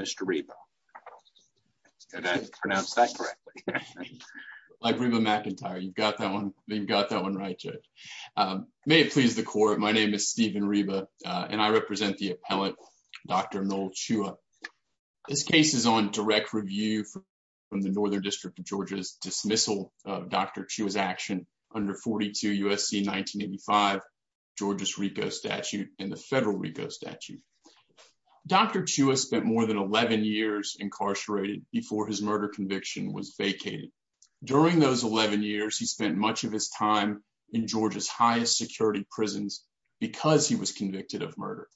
Mr. Reba, did I pronounce that correctly? Like Reba McIntyre. You've got that one right, Judge. May it please the court, my name is Stephen Reba, and I represent the appellant, Dr. Noel Chua. This case is on direct review from the Northern District of Georgia's dismissal of Dr. Chua's action under 42 U.S.C. 1985, Georgia's RICO statute, and the federal RICO statute. Dr. Chua spent more than 11 years incarcerated before his murder conviction was vacated. During those 11 years, he spent much of his time in Georgia's highest security prisons because he was convicted of murder.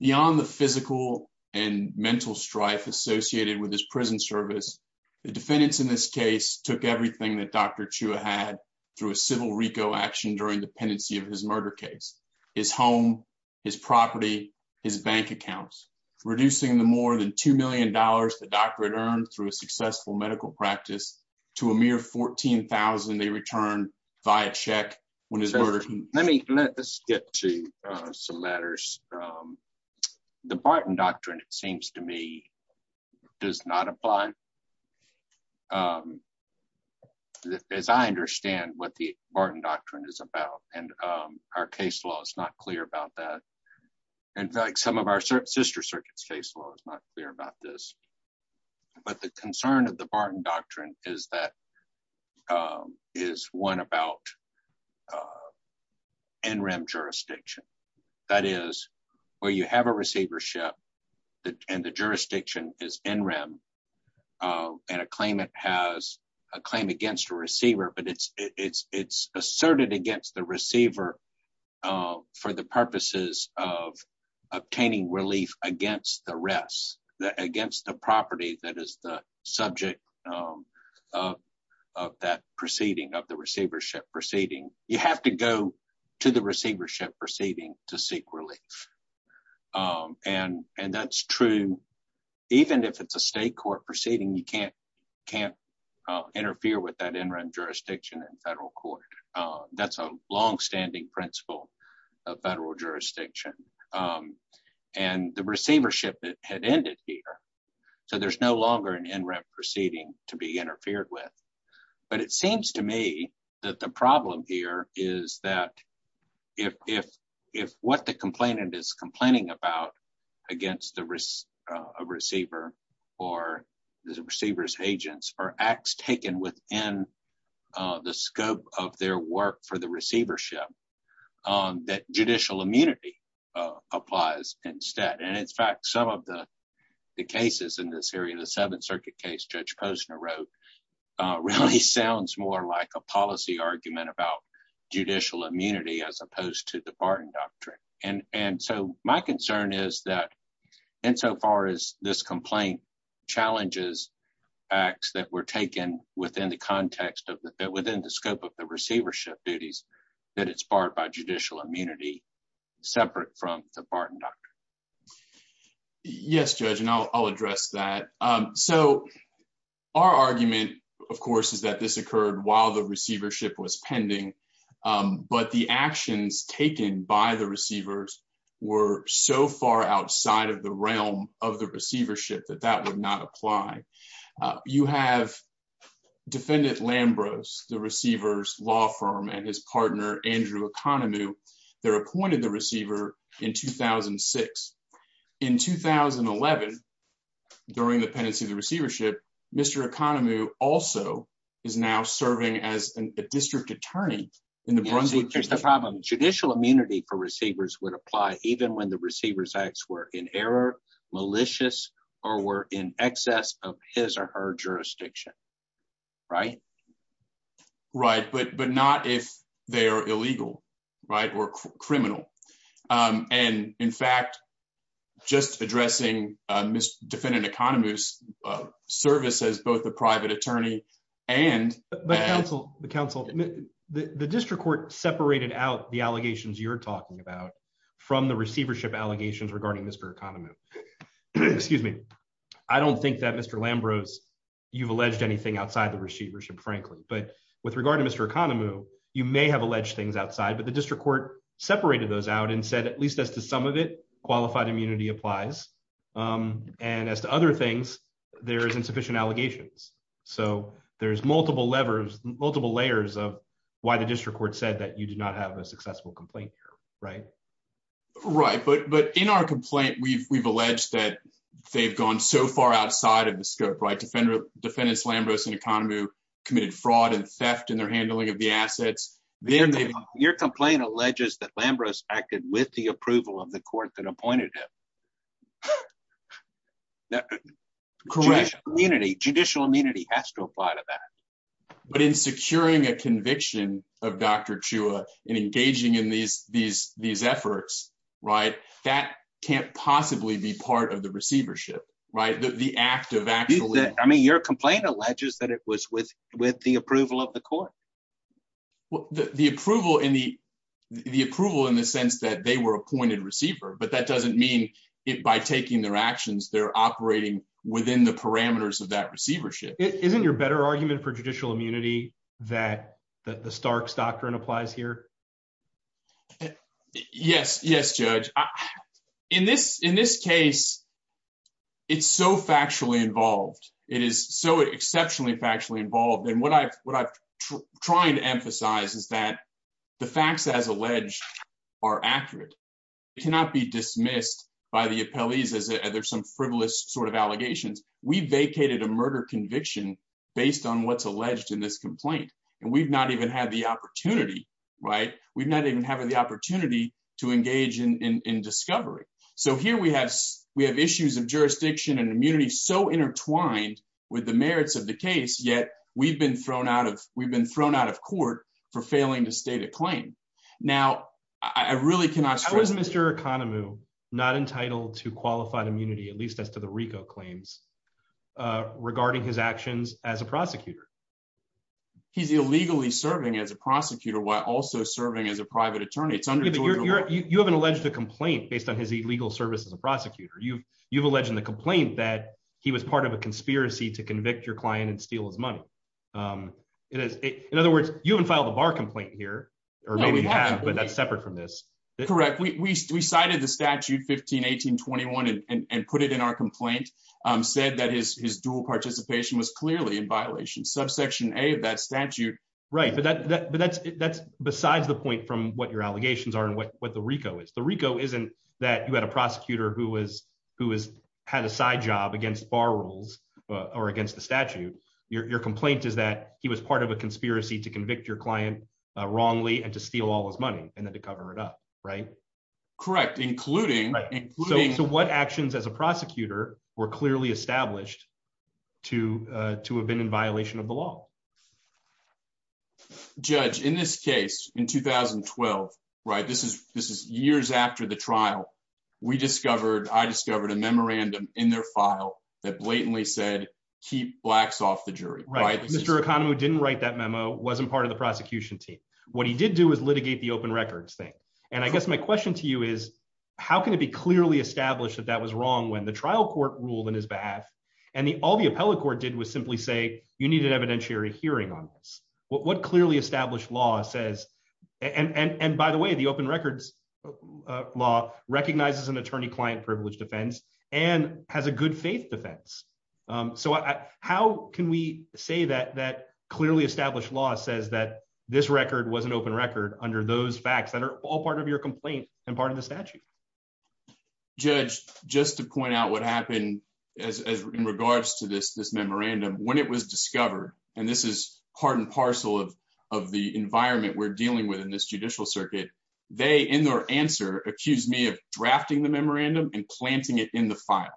Beyond the physical and mental strife associated with his prison service, the defendants in this case took everything that Dr. Chua had through a civil RICO action during the pendency of his murder case. His house, his home, his property, his bank accounts. Reducing the more than $2 million the doctor had earned through a successful medical practice to a mere $14,000 they returned via check. Let's get to some matters. The Barton Doctrine, it seems to me, does not apply. As I understand what the Barton Doctrine is about, and our case law is not clear about that. And some of our sister circuits case law is not clear about this. But the concern of the Barton Doctrine is that is one about NREM jurisdiction. That is, where you have a receivership, and the jurisdiction is NREM, and a claimant has a claim against a receiver, but it's asserted against the receiver for the purposes of obtaining relief against the rest, against the property that is the subject of that proceeding, of the receivership proceeding. You have to go to the receivership proceeding to seek relief. And, and that's true, even if it's a state court proceeding you can't, can't interfere with that NREM jurisdiction in federal court. That's a long standing principle of federal jurisdiction. And the receivership that had ended here. So there's no longer an NREM proceeding to be interfered with. But it seems to me that the problem here is that if, if, if what the complainant is complaining about against the risk of receiver, or the receivers agents are acts taken within the scope of their work for the receivership. That judicial immunity applies instead and in fact some of the cases in this area, the Seventh Circuit case Judge Posner wrote really sounds more like a policy argument about judicial immunity as opposed to the Barton Doctrine. And, and so my concern is that in so far as this complaint challenges acts that were taken within the context of that within the scope of the receivership duties that it's barred by judicial immunity, separate from the Barton Doctrine. Yes, Judge and I'll address that. So, our argument, of course, is that this occurred while the receivership was pending. But the actions taken by the receivers were so far outside of the realm of the receivership that that would not apply. You have defendant Lambros the receivers law firm and his partner, Andrew economy. They're appointed the receiver in 2006 in 2011. During the pendency the receivership, Mr economy also is now serving as a district attorney in the Brunswick. Here's the problem judicial immunity for receivers would apply, even when the receivers acts were in error malicious or were in excess of his or her jurisdiction. Right. Right, but but not if they are illegal right or criminal. And, in fact, just addressing Miss defendant economies services both the private attorney, and the council, the council, the district court separated out the allegations you're talking about from the receivership allegations regarding Mr economy. Excuse me. I don't think that Mr Lambros, you've alleged anything outside the receivership, frankly, but with regard to Mr economy, you may have alleged things outside but the district court separated those out and said at least as to some of it qualified immunity applies. And as to other things, there isn't sufficient allegations. So, there's multiple levers multiple layers of why the district court said that you do not have a successful complaint here. Right. Right, but but in our complaint we've we've alleged that they've gone so far outside of the scope right defender defendants Lambros and economy committed fraud and theft and their handling of the assets. Your complaint alleges that Lambros acted with the approval of the court that appointed correct community judicial immunity has to apply to that. But in securing a conviction of Dr Chua and engaging in these, these, these efforts, right, that can't possibly be part of the receivership, right, the active actually I mean your complaint alleges that it was with, with the approval of the court. Well, the approval in the, the approval in the sense that they were appointed receiver but that doesn't mean it by taking their actions they're operating within the parameters of that receivership isn't your better argument for judicial immunity that that the Starks doctrine applies here. Yes, yes, judge. In this, in this case, it's so factually involved. It is so exceptionally factually involved and what I what I'm trying to emphasize is that the facts as alleged are accurate. It cannot be dismissed by the appellees as there's some frivolous sort of allegations, we vacated a murder conviction, based on what's alleged in this complaint, and we've not even had the opportunity. Right, we've not even having the opportunity to engage in discovery. So here we have, we have issues of jurisdiction and immunity so intertwined with the merits of the case yet we've been thrown out of, we've been thrown out of court for failing to state a claim. Now, I really cannot was Mr economy, not entitled to qualified immunity at least as to the Rico claims regarding his actions as a prosecutor. He's illegally serving as a prosecutor while also serving as a private attorney it's under your you haven't alleged a complaint based on his legal service as a prosecutor you you've alleged in the complaint that he was part of a conspiracy to convict your client and steal his money. It is, in other words, you haven't filed a bar complaint here, or maybe we have but that's separate from this. Correct, we cited the statute 15 1821 and put it in our complaint said that his dual participation was clearly in violation subsection a that statute. Right, but that but that's that's besides the point from what your allegations are and what what the Rico is the Rico isn't that you had a prosecutor who was who is had a side job against bar rules or against the statute, your complaint is that he was part of a conspiracy to convict your client wrongly and to steal all his money, and then to cover it up. Right. Correct, including. So what actions as a prosecutor were clearly established to to have been in violation of the law. Judge in this case in 2012 right this is this is years after the trial. We discovered I discovered a memorandum in their file that blatantly said, keep blacks off the jury right Mr economy didn't write that memo wasn't part of the prosecution team. What he did do is litigate the open records thing. And I guess my question to you is, how can it be clearly established that that was wrong when the trial court ruled in his behalf, and the all the appellate court did was simply say you need an evidentiary hearing on this, what clearly established law says, and by the way the open records law recognizes an attorney client privilege defense and has a good faith defense. So, how can we say that that clearly established law says that this record was an open record under those facts that are all part of your complaint, and part of the statute. Judge, just to point out what happened as regards to this this memorandum when it was discovered, and this is part and parcel of of the environment we're dealing with in this judicial circuit. They in their answer accused me of drafting the memorandum and planting it in the file,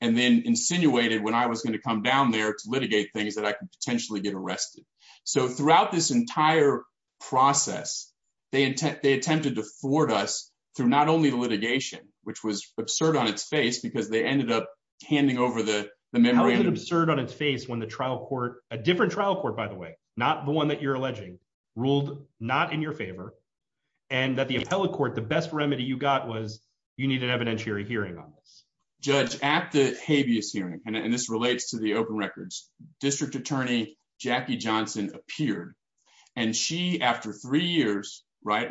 and then insinuated when I was going to come down there to litigate things that I can potentially get arrested. So throughout this entire process, they intend they attempted to thwart us through not only the litigation, which was absurd on its face because they ended up handing over the memory absurd on its face when the trial court, a different trial court by the way, not the not in your favor, and that the appellate court the best remedy you got was you need an evidentiary hearing on this judge at the habeas hearing and this relates to the open records district attorney, Jackie Johnson appeared, and she after three years, right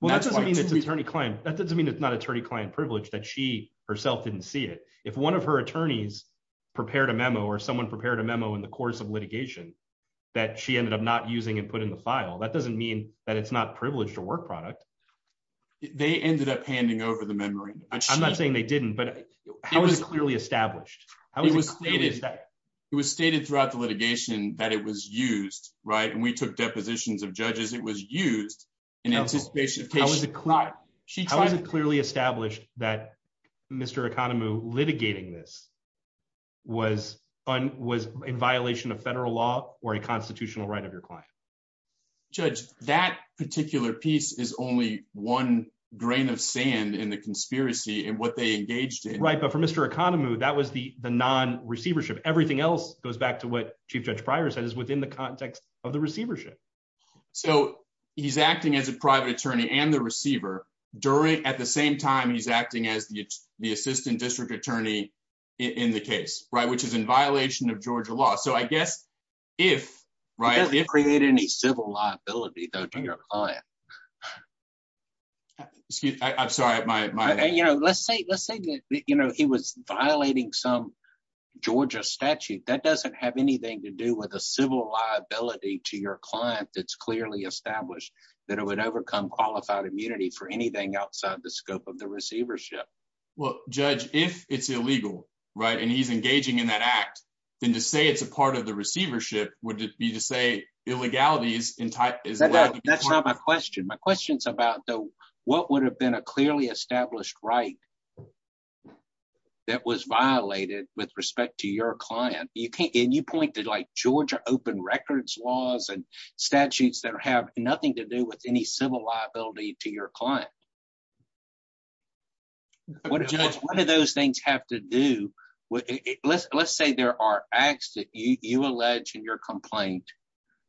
Well, that doesn't mean it's attorney client, that doesn't mean it's not attorney client privilege that she herself didn't see it. If one of her attorneys prepared a memo or someone prepared a memo in the course of litigation that she ended up not using and put in the file that doesn't mean that it's not privileged to work product. They ended up handing over the memory. I'm not saying they didn't but I was clearly established, I was stated that it was stated throughout the litigation that it was used right and we took depositions of judges, it was used in anticipation. She clearly established that Mr economy litigating this was on was in violation of federal law, or a constitutional right of your client. Judge that particular piece is only one grain of sand in the conspiracy and what they engaged in right but for Mr economy that was the the non receivership everything else goes back to what Chief Judge prior said is within the context of the receivership. So, he's acting as a private attorney and the receiver during at the same time he's acting as the, the assistant district attorney in the case right which is in violation of Georgia law so I guess if right if create any civil liability though to your client. I'm sorry, my, my, you know, let's say, let's say, you know, he was violating some Georgia statute that doesn't have anything to do with a civil liability to your client that's clearly established that it would overcome qualified immunity for anything outside the scope of the receivership. Well, judge, if it's illegal right and he's engaging in that act, then to say it's a part of the receivership, would it be to say illegality is in type is that that's not my question my questions about the, what would have been a clearly established right. That was violated with respect to your client, you can't get you pointed like Georgia open records laws and statutes that have nothing to do with any civil liability to your client. One of those things have to do with it, let's, let's say there are acts that you alleged in your complaint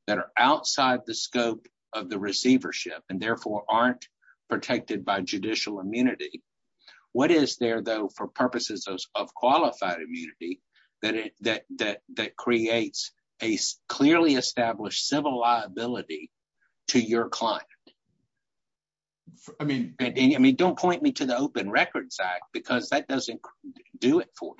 that are outside the scope of the receivership and therefore aren't protected by judicial immunity. What is there, though, for purposes of qualified immunity that it that that that creates a clearly established civil liability to your client. I mean, I mean don't point me to the open records act because that doesn't do it for.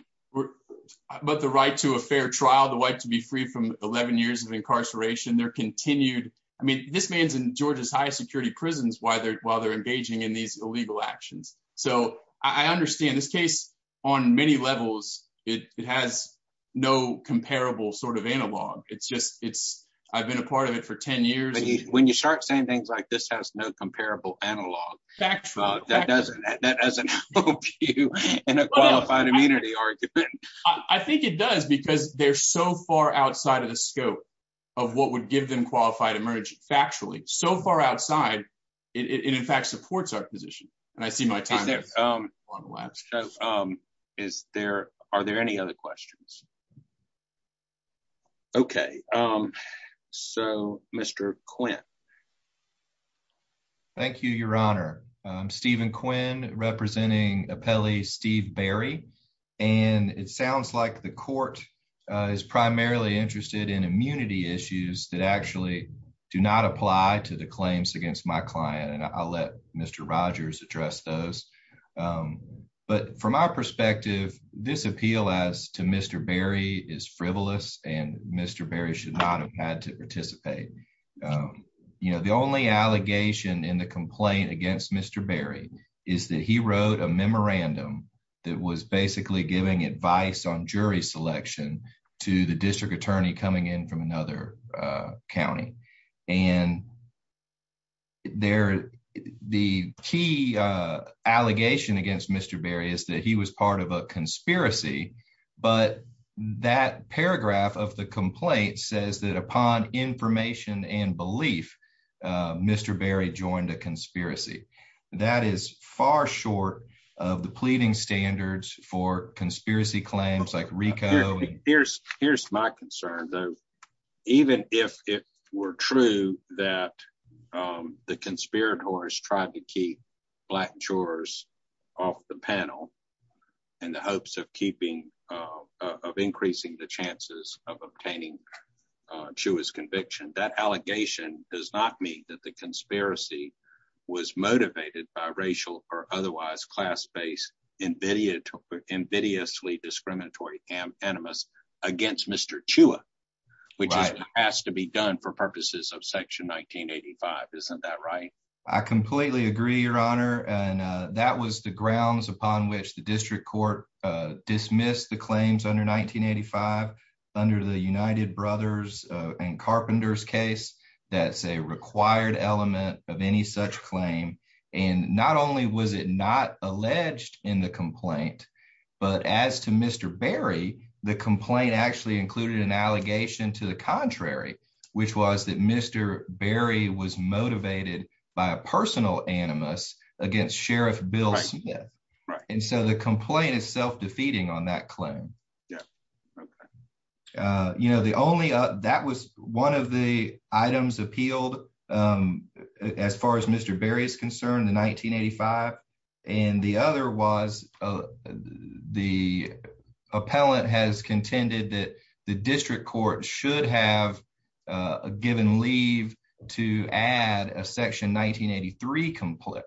But the right to a fair trial the way to be free from 11 years of incarceration there continued, I mean this man's in Georgia's high security prisons, why they're why they're engaging in these illegal actions, so I understand this case on many levels, it has no comparable sort of analog it's just it's i've been a part of it for 10 years. When you, when you start saying things like this has no comparable analog fact that doesn't that doesn't help you in a qualified immunity argument. I think it does because they're so far outside of the scope of what would give them qualified emerging factually so far outside it in fact supports our position, and I see my time. Is there, are there any other questions. Okay. So, Mr Quinn. Thank you, Your Honor Stephen Quinn representing a Pele Steve Barry and it sounds like the Court is primarily interested in immunity issues that actually do not apply to the claims against my client and I'll let Mr Rogers address those. But from our perspective, this appeal as to Mr Barry is frivolous and Mr Barry should not have had to participate. You know, the only allegation in the complaint against Mr Barry is that he wrote a memorandum that was basically giving advice on jury selection to the district attorney coming in from another county and. There, the key allegation against Mr Barry is that he was part of a conspiracy, but that paragraph of the complaint says that upon information and belief, Mr Barry joined a conspiracy that is far short of the pleading standards for conspiracy claims like Rico. Here's, here's my concern, though, even if it were true that the conspirators tried to keep black chores off the panel, and the hopes of keeping of increasing the chances of obtaining Jewish conviction that allegation does not mean that the conspiracy was I completely agree, Your Honor, and that was the grounds upon which the district court dismissed the claims under 1985 under the United Brothers and Carpenters case that's a required element of any such claim, and not only was it not alleged in the complaint. But as to Mr Barry, the complaint actually included an allegation to the contrary, which was that Mr Barry was motivated by a personal animus against Sheriff Bill Smith, and so the complaint is self defeating on that claim. You know the only that was one of the items appealed as far as Mr Barry is concerned in 1985, and the other was the appellant has contended that the district court should have given leave to add a section 1983 complete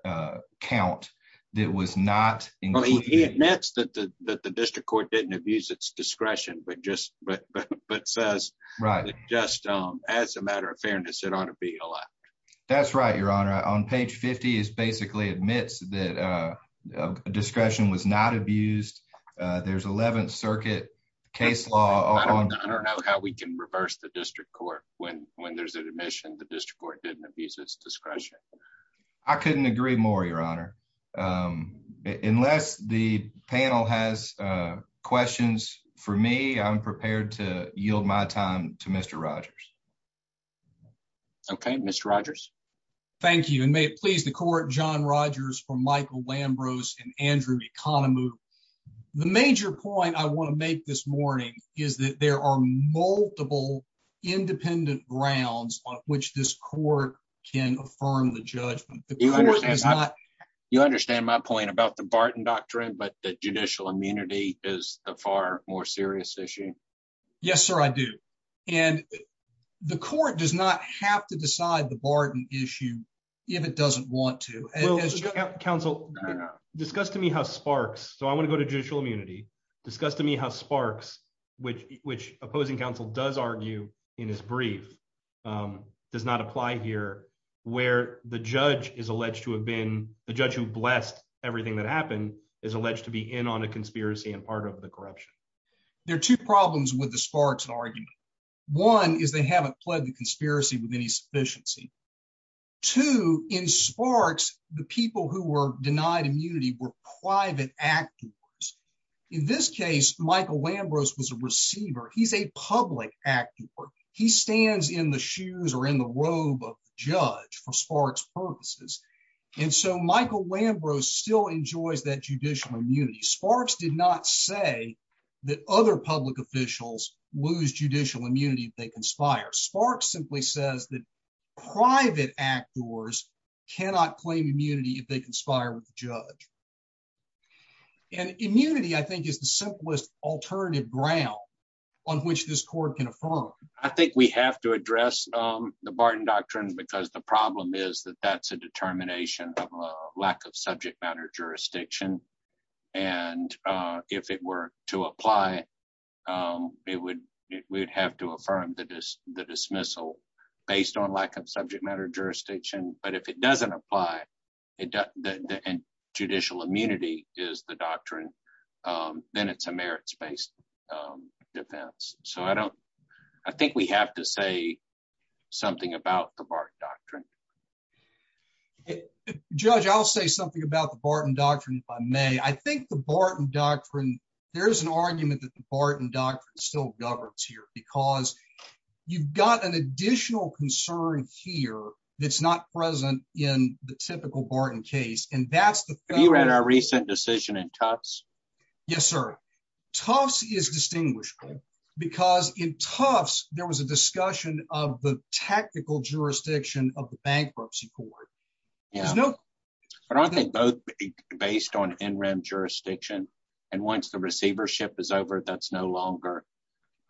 count. That was not next that the district court didn't abuse its discretion but just but but says, right, just as a matter of fairness, it ought to be a lot. That's right, Your Honor on page 50 is basically admits that discretion was not abused. There's 11th Circuit case law. How we can reverse the district court, when, when there's an admission the district court didn't abuse its discretion. I couldn't agree more, Your Honor. Unless the panel has questions for me I'm prepared to yield my time to Mr Rogers. Okay, Mr Rogers. Thank you and may it please the court john Rogers from Michael Lambros and Andrew economy. The major point I want to make this morning is that there are multiple independent grounds on which this court can affirm the judgment. You understand my point about the Barton doctrine but the judicial immunity is a far more serious issue. Yes, sir, I do. And the court does not have to decide the Barton issue. If it doesn't want to counsel, discuss to me how sparks, so I want to go to judicial immunity, discuss to me how sparks, which, which opposing counsel does argue in his brief does not apply here, where the judge is alleged to have been the judge who blessed everything that happened is alleged to be in on a conspiracy and part of the corruption. There are two problems with the sparks and argue. One is they haven't pledged the conspiracy with any sufficiency to in sparks, the people who were denied immunity were private actors. In this case, Michael Lambros was a receiver, he's a public actor, he stands in the shoes or in the robe of judge for sparks purposes. And so Michael Lambros still enjoys that judicial immunity sparks did not say that other public officials lose judicial immunity they conspire sparks simply says that private actors cannot claim immunity if they conspire with the judge and immunity I think is the simplest alternative ground on which this court can affirm, I think we have to address the Barton doctrines because the the dismissal, based on lack of subject matter jurisdiction, but if it doesn't apply it to judicial immunity is the doctrine, then it's a merits based defense, so I don't. I think we have to say something about the Barton doctrine. Judge I'll say something about the Barton doctrine, I may I think the Barton doctrine. There's an argument that the Barton doctrine still governs here because you've got an additional concern here, that's not present in the typical Barton case and that's the You read our recent decision and tops. Yes, sir. Toss is distinguishable, because in Tufts, there was a discussion of the tactical jurisdiction of the bankruptcy court. I don't think both based on interim jurisdiction. And once the receivership is over, that's no longer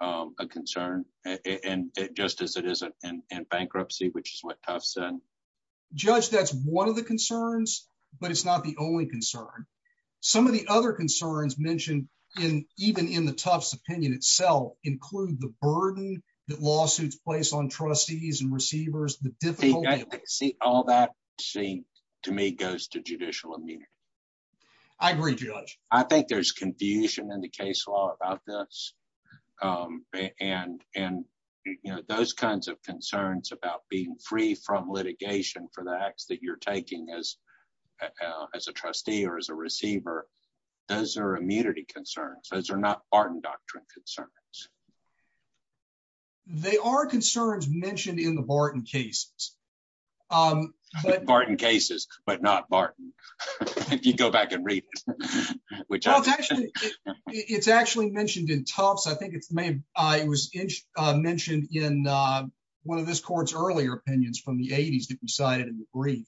a concern, and it just as it isn't in bankruptcy, which is what I've said, judge that's one of the concerns, but it's not the only concern. Some of the other concerns mentioned in even in the Tufts opinion itself include the burden that lawsuits place on trustees and receivers, the difficulty. See, all that seemed to me goes to judicial immunity. I agree. I think there's confusion in the case law about this. And, and, you know, those kinds of concerns about being free from litigation for the acts that you're taking as as a trustee or as a receiver. Those are immunity concerns. Those are not Barton doctrine concerns. They are concerns mentioned in the Barton cases. Barton cases, but not Barton. If you go back and read, which it's actually mentioned in Tufts I think it's made. I was mentioned in one of this court's earlier opinions from the 80s decided in the brief.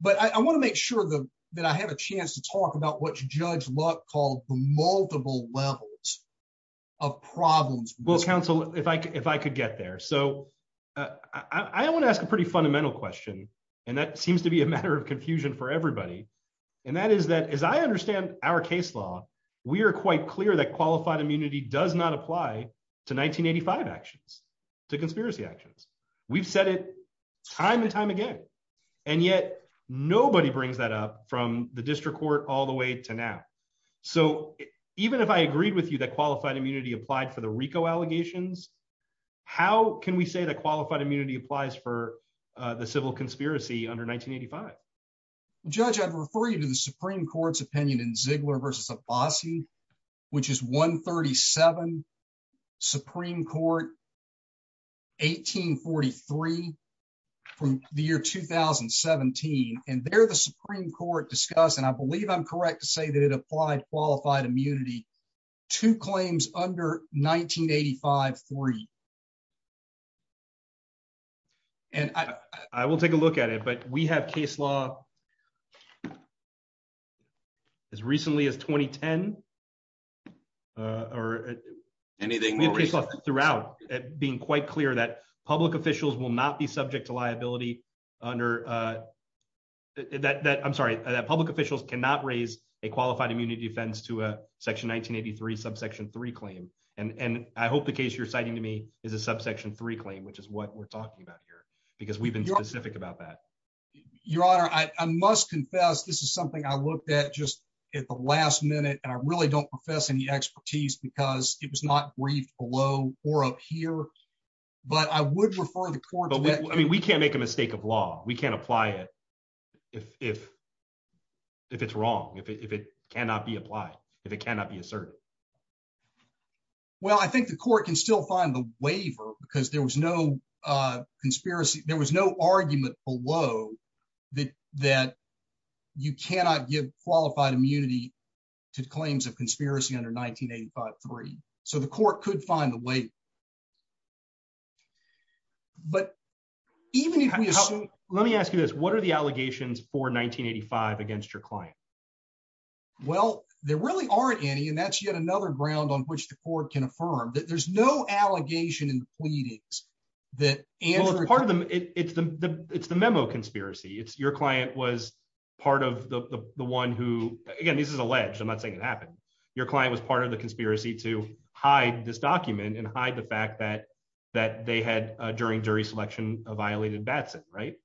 But I want to make sure that I have a chance to talk about what you judge luck called multiple levels of problems will counsel if I if I could get there so I want to ask a question. And that's a pretty fundamental question. And that seems to be a matter of confusion for everybody. And that is that as I understand our case law. We are quite clear that qualified immunity does not apply to 1985 actions to conspiracy actions. We've said it time and time again. And yet, nobody brings that up from the district court all the way to now. So, even if I agreed with you that qualified immunity applied for the Rico allegations. How can we say that qualified immunity applies for the civil conspiracy under 1985. Judge I'd refer you to the Supreme Court's opinion in Ziegler versus a bossy, which is 137 Supreme Court, 1843, from the year 2017, and they're the Supreme Court discuss and I believe I'm correct to say that it applied qualified immunity to claims under 1985 free. And I will take a look at it but we have case law. As recently as 2010, or anything throughout it being quite clear that public officials will not be subject to liability under that that I'm sorry that public officials cannot raise a qualified immunity offense to a section 1983 subsection three claim, and I hope the case you're citing to me is a subsection three claim which is what we're talking about here, because we've been specific about that. Your Honor, I must confess this is something I looked at just at the last minute and I really don't profess any expertise because it was not briefed below, or up here. But I would refer the court, I mean we can't make a mistake of law, we can apply it. If, if, if it's wrong if it cannot be applied. If it cannot be asserted. Well, I think the court can still find the waiver, because there was no conspiracy, there was no argument below that, that you cannot give qualified immunity to claims of conspiracy under 1983, so the court could find the way. But even if we assume, let me ask you this, what are the allegations for 1985 against your client. Well, there really aren't any and that's yet another ground on which the court can affirm that there's no allegation and pleadings that part of them, it's the, it's the memo conspiracy it's your client was part of the one who, again, this is alleged I'm not saying it happened. Your client was part of the conspiracy to hide this document and hide the fact that that they had during jury selection, a violated Batson right. So,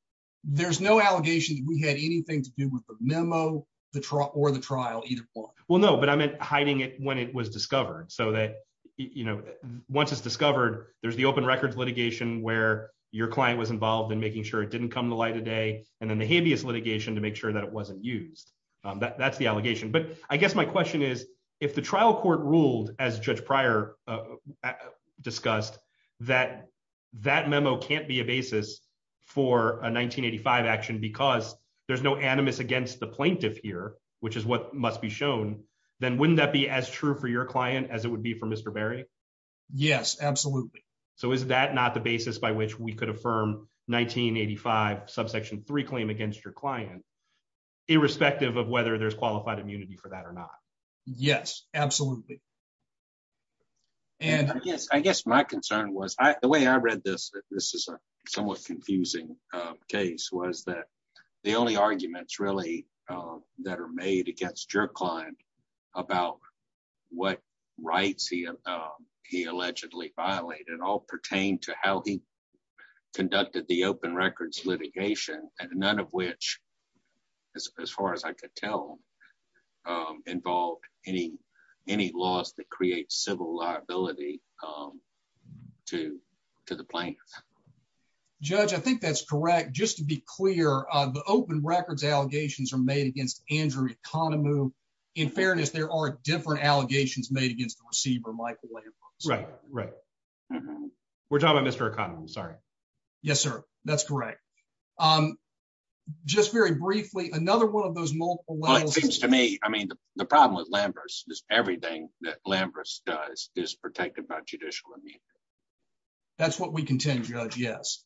there's no allegation that we had anything to do with the memo, the truck or the trial either. Well, no, but I meant hiding it when it was discovered so that you know once it's discovered, there's the open records litigation where your client was involved in making sure it didn't come to light today, and then the habeas litigation to make sure that it wasn't used. That's the allegation but I guess my question is, if the trial court ruled as judge prior discussed that that memo can't be a basis for a 1985 action because there's no animus against the plaintiff here, which is what must be shown, then wouldn't that be as true for your client as it would be for Mr Barry. Yes, absolutely. So is that not the basis by which we could affirm 1985 subsection three claim against your client, irrespective of whether there's qualified immunity for that or not. Yes, absolutely. And, yes, I guess my concern was the way I read this, this is a somewhat confusing case was that the only arguments really that are made against your client about what rights he he allegedly violated all pertain to how he conducted the open records litigation, and none of which, as far as I could tell involved any any laws that create civil liability to to the plane. Judge I think that's correct. Just to be clear, the open records allegations are made against Andrew economy. In fairness, there are different allegations made against the receiver Michael. Right, right. We're talking about Mr economy sorry. Yes, sir. That's correct. I'm just very briefly another one of those multiple levels to me, I mean, the problem with Lambert's just everything that Lambert's does is protected by judicial immunity. That's what we continue to judge yes.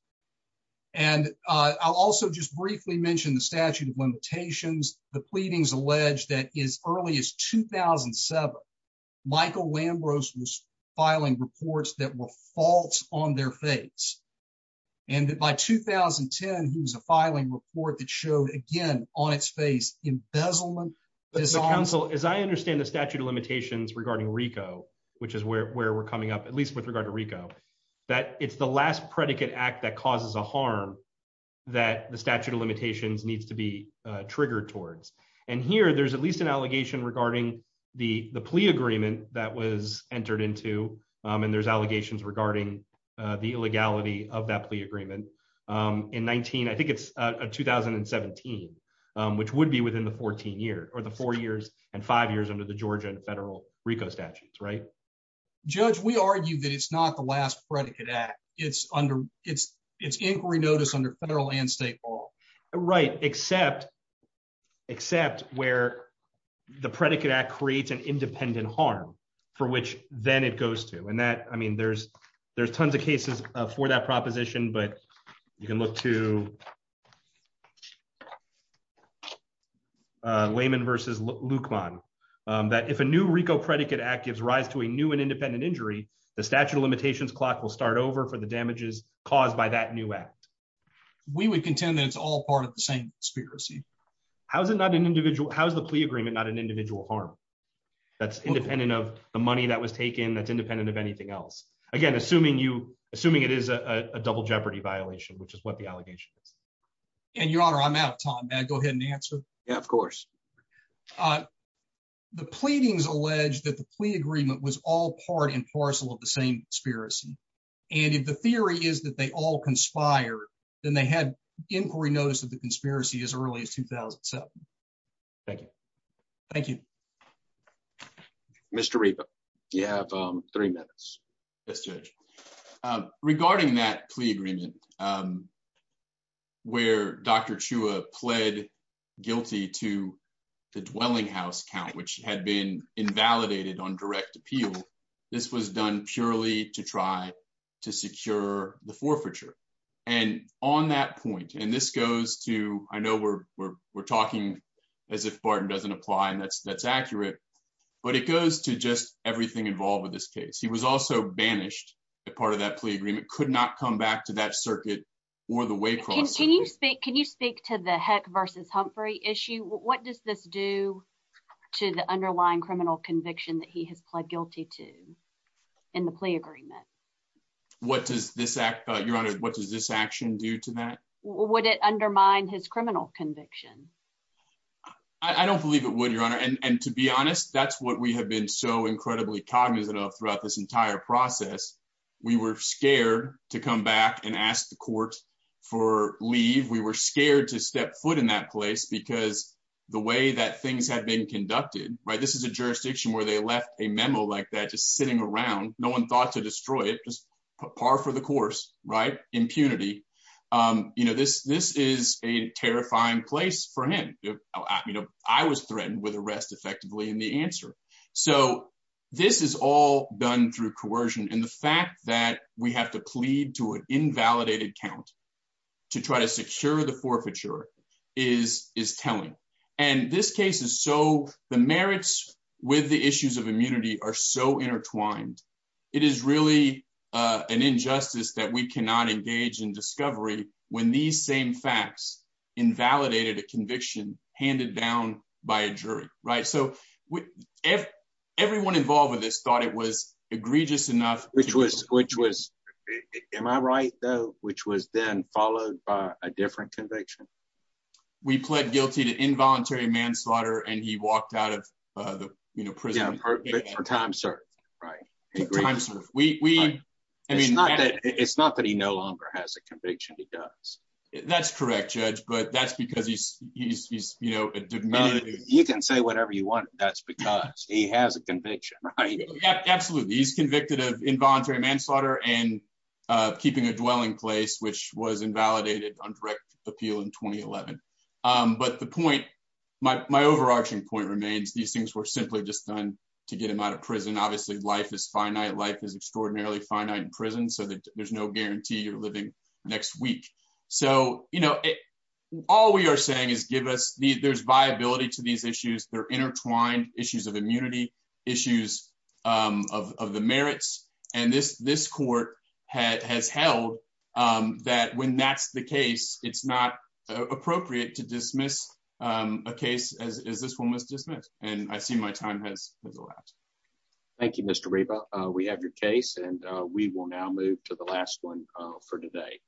And I'll also just briefly mentioned the statute of limitations, the pleadings alleged that is early as 2007. Michael Lambros was filing reports that were false on their face. And by 2010 he was a filing report that showed again on its face embezzlement. As I understand the statute of limitations regarding Rico, which is where we're coming up at least with regard to Rico, that it's the last predicate act that causes a harm that the statute of limitations needs to be triggered towards. And here there's at least an allegation regarding the the plea agreement that was entered into, and there's allegations regarding the legality of that plea agreement in 19 I think it's a 2017, which would be within the 14 year or the four years and five statutes right. Judge we argue that it's not the last predicate act, it's under its its inquiry notice under federal and state law. Right, except, except where the predicate act creates an independent harm for which, then it goes to and that I mean there's, there's tons of new Rico predicate actives rise to a new and independent injury, the statute of limitations clock will start over for the damages caused by that new act. We would contend that it's all part of the same conspiracy. How's it not an individual, how's the plea agreement not an individual harm. That's independent of the money that was taken that's independent of anything else. Again, assuming you assuming it is a double jeopardy violation which is what the allegation is. And your honor I'm out of time and go ahead and answer. Yeah, of course. The pleadings alleged that the plea agreement was all part and parcel of the same spirit. And if the theory is that they all conspire, then they had inquiry notice of the conspiracy as early as 2007. Thank you. Thank you. Mr. You have three minutes. Regarding that plea agreement, where Dr. Chua pled guilty to the dwelling house count which had been invalidated on direct appeal. This was done purely to try to secure the forfeiture. And on that point and this goes to, I know we're, we're, we're talking as if Barton doesn't apply and that's that's accurate. But it goes to just everything involved with this case he was also banished a part of that plea agreement could not come back to that circuit, or the way can you speak can you speak to the heck versus Humphrey issue what does this do to the underlying criminal conviction that he has pled guilty to in the plea agreement. What does this act, Your Honor, what does this action due to that would it undermine his criminal conviction. I don't believe it would Your Honor and to be honest, that's what we have been so incredibly cognizant of throughout this entire process. We were scared to come back and ask the court for leave we were scared to step foot in that place because the way that things had been conducted right this is a jurisdiction where they left a memo like that just sitting around, no one thought to destroy it just par for the course right impunity. You know this this is a terrifying place for him. I was threatened with arrest effectively in the answer. So, this is all done through coercion and the fact that we have to plead to an invalidated count to try to secure the forfeiture is is telling. And this case is so the merits with the issues of immunity are so intertwined. It is really an injustice that we cannot engage in discovery, when these same facts invalidated a conviction, handed down by a jury, right so we have everyone involved with this thought it was egregious enough, which was, which was. Am I right, though, which was then followed by a different conviction. We pled guilty to involuntary manslaughter and he walked out of the prison for time, sir. Right. I mean, it's not that he no longer has a conviction, he does. That's correct judge but that's because he's, he's, you know, you can say whatever you want. That's because he has a conviction. Absolutely. He's convicted of involuntary manslaughter and keeping a dwelling place which was invalidated on direct appeal in 2011. But the point my overarching point remains these things were simply just done to get him out of prison obviously life is finite life is extraordinarily finite in prison so that there's no guarantee you're living next week. So, you know, all we are saying is give us the there's viability to these issues they're intertwined issues of immunity issues of the merits and this this court had has held that when that's the case, it's not appropriate to dismiss a case as this one was dismissed, and I see my time has Thank you, Mr. We have your case and we will now move to the last one for today.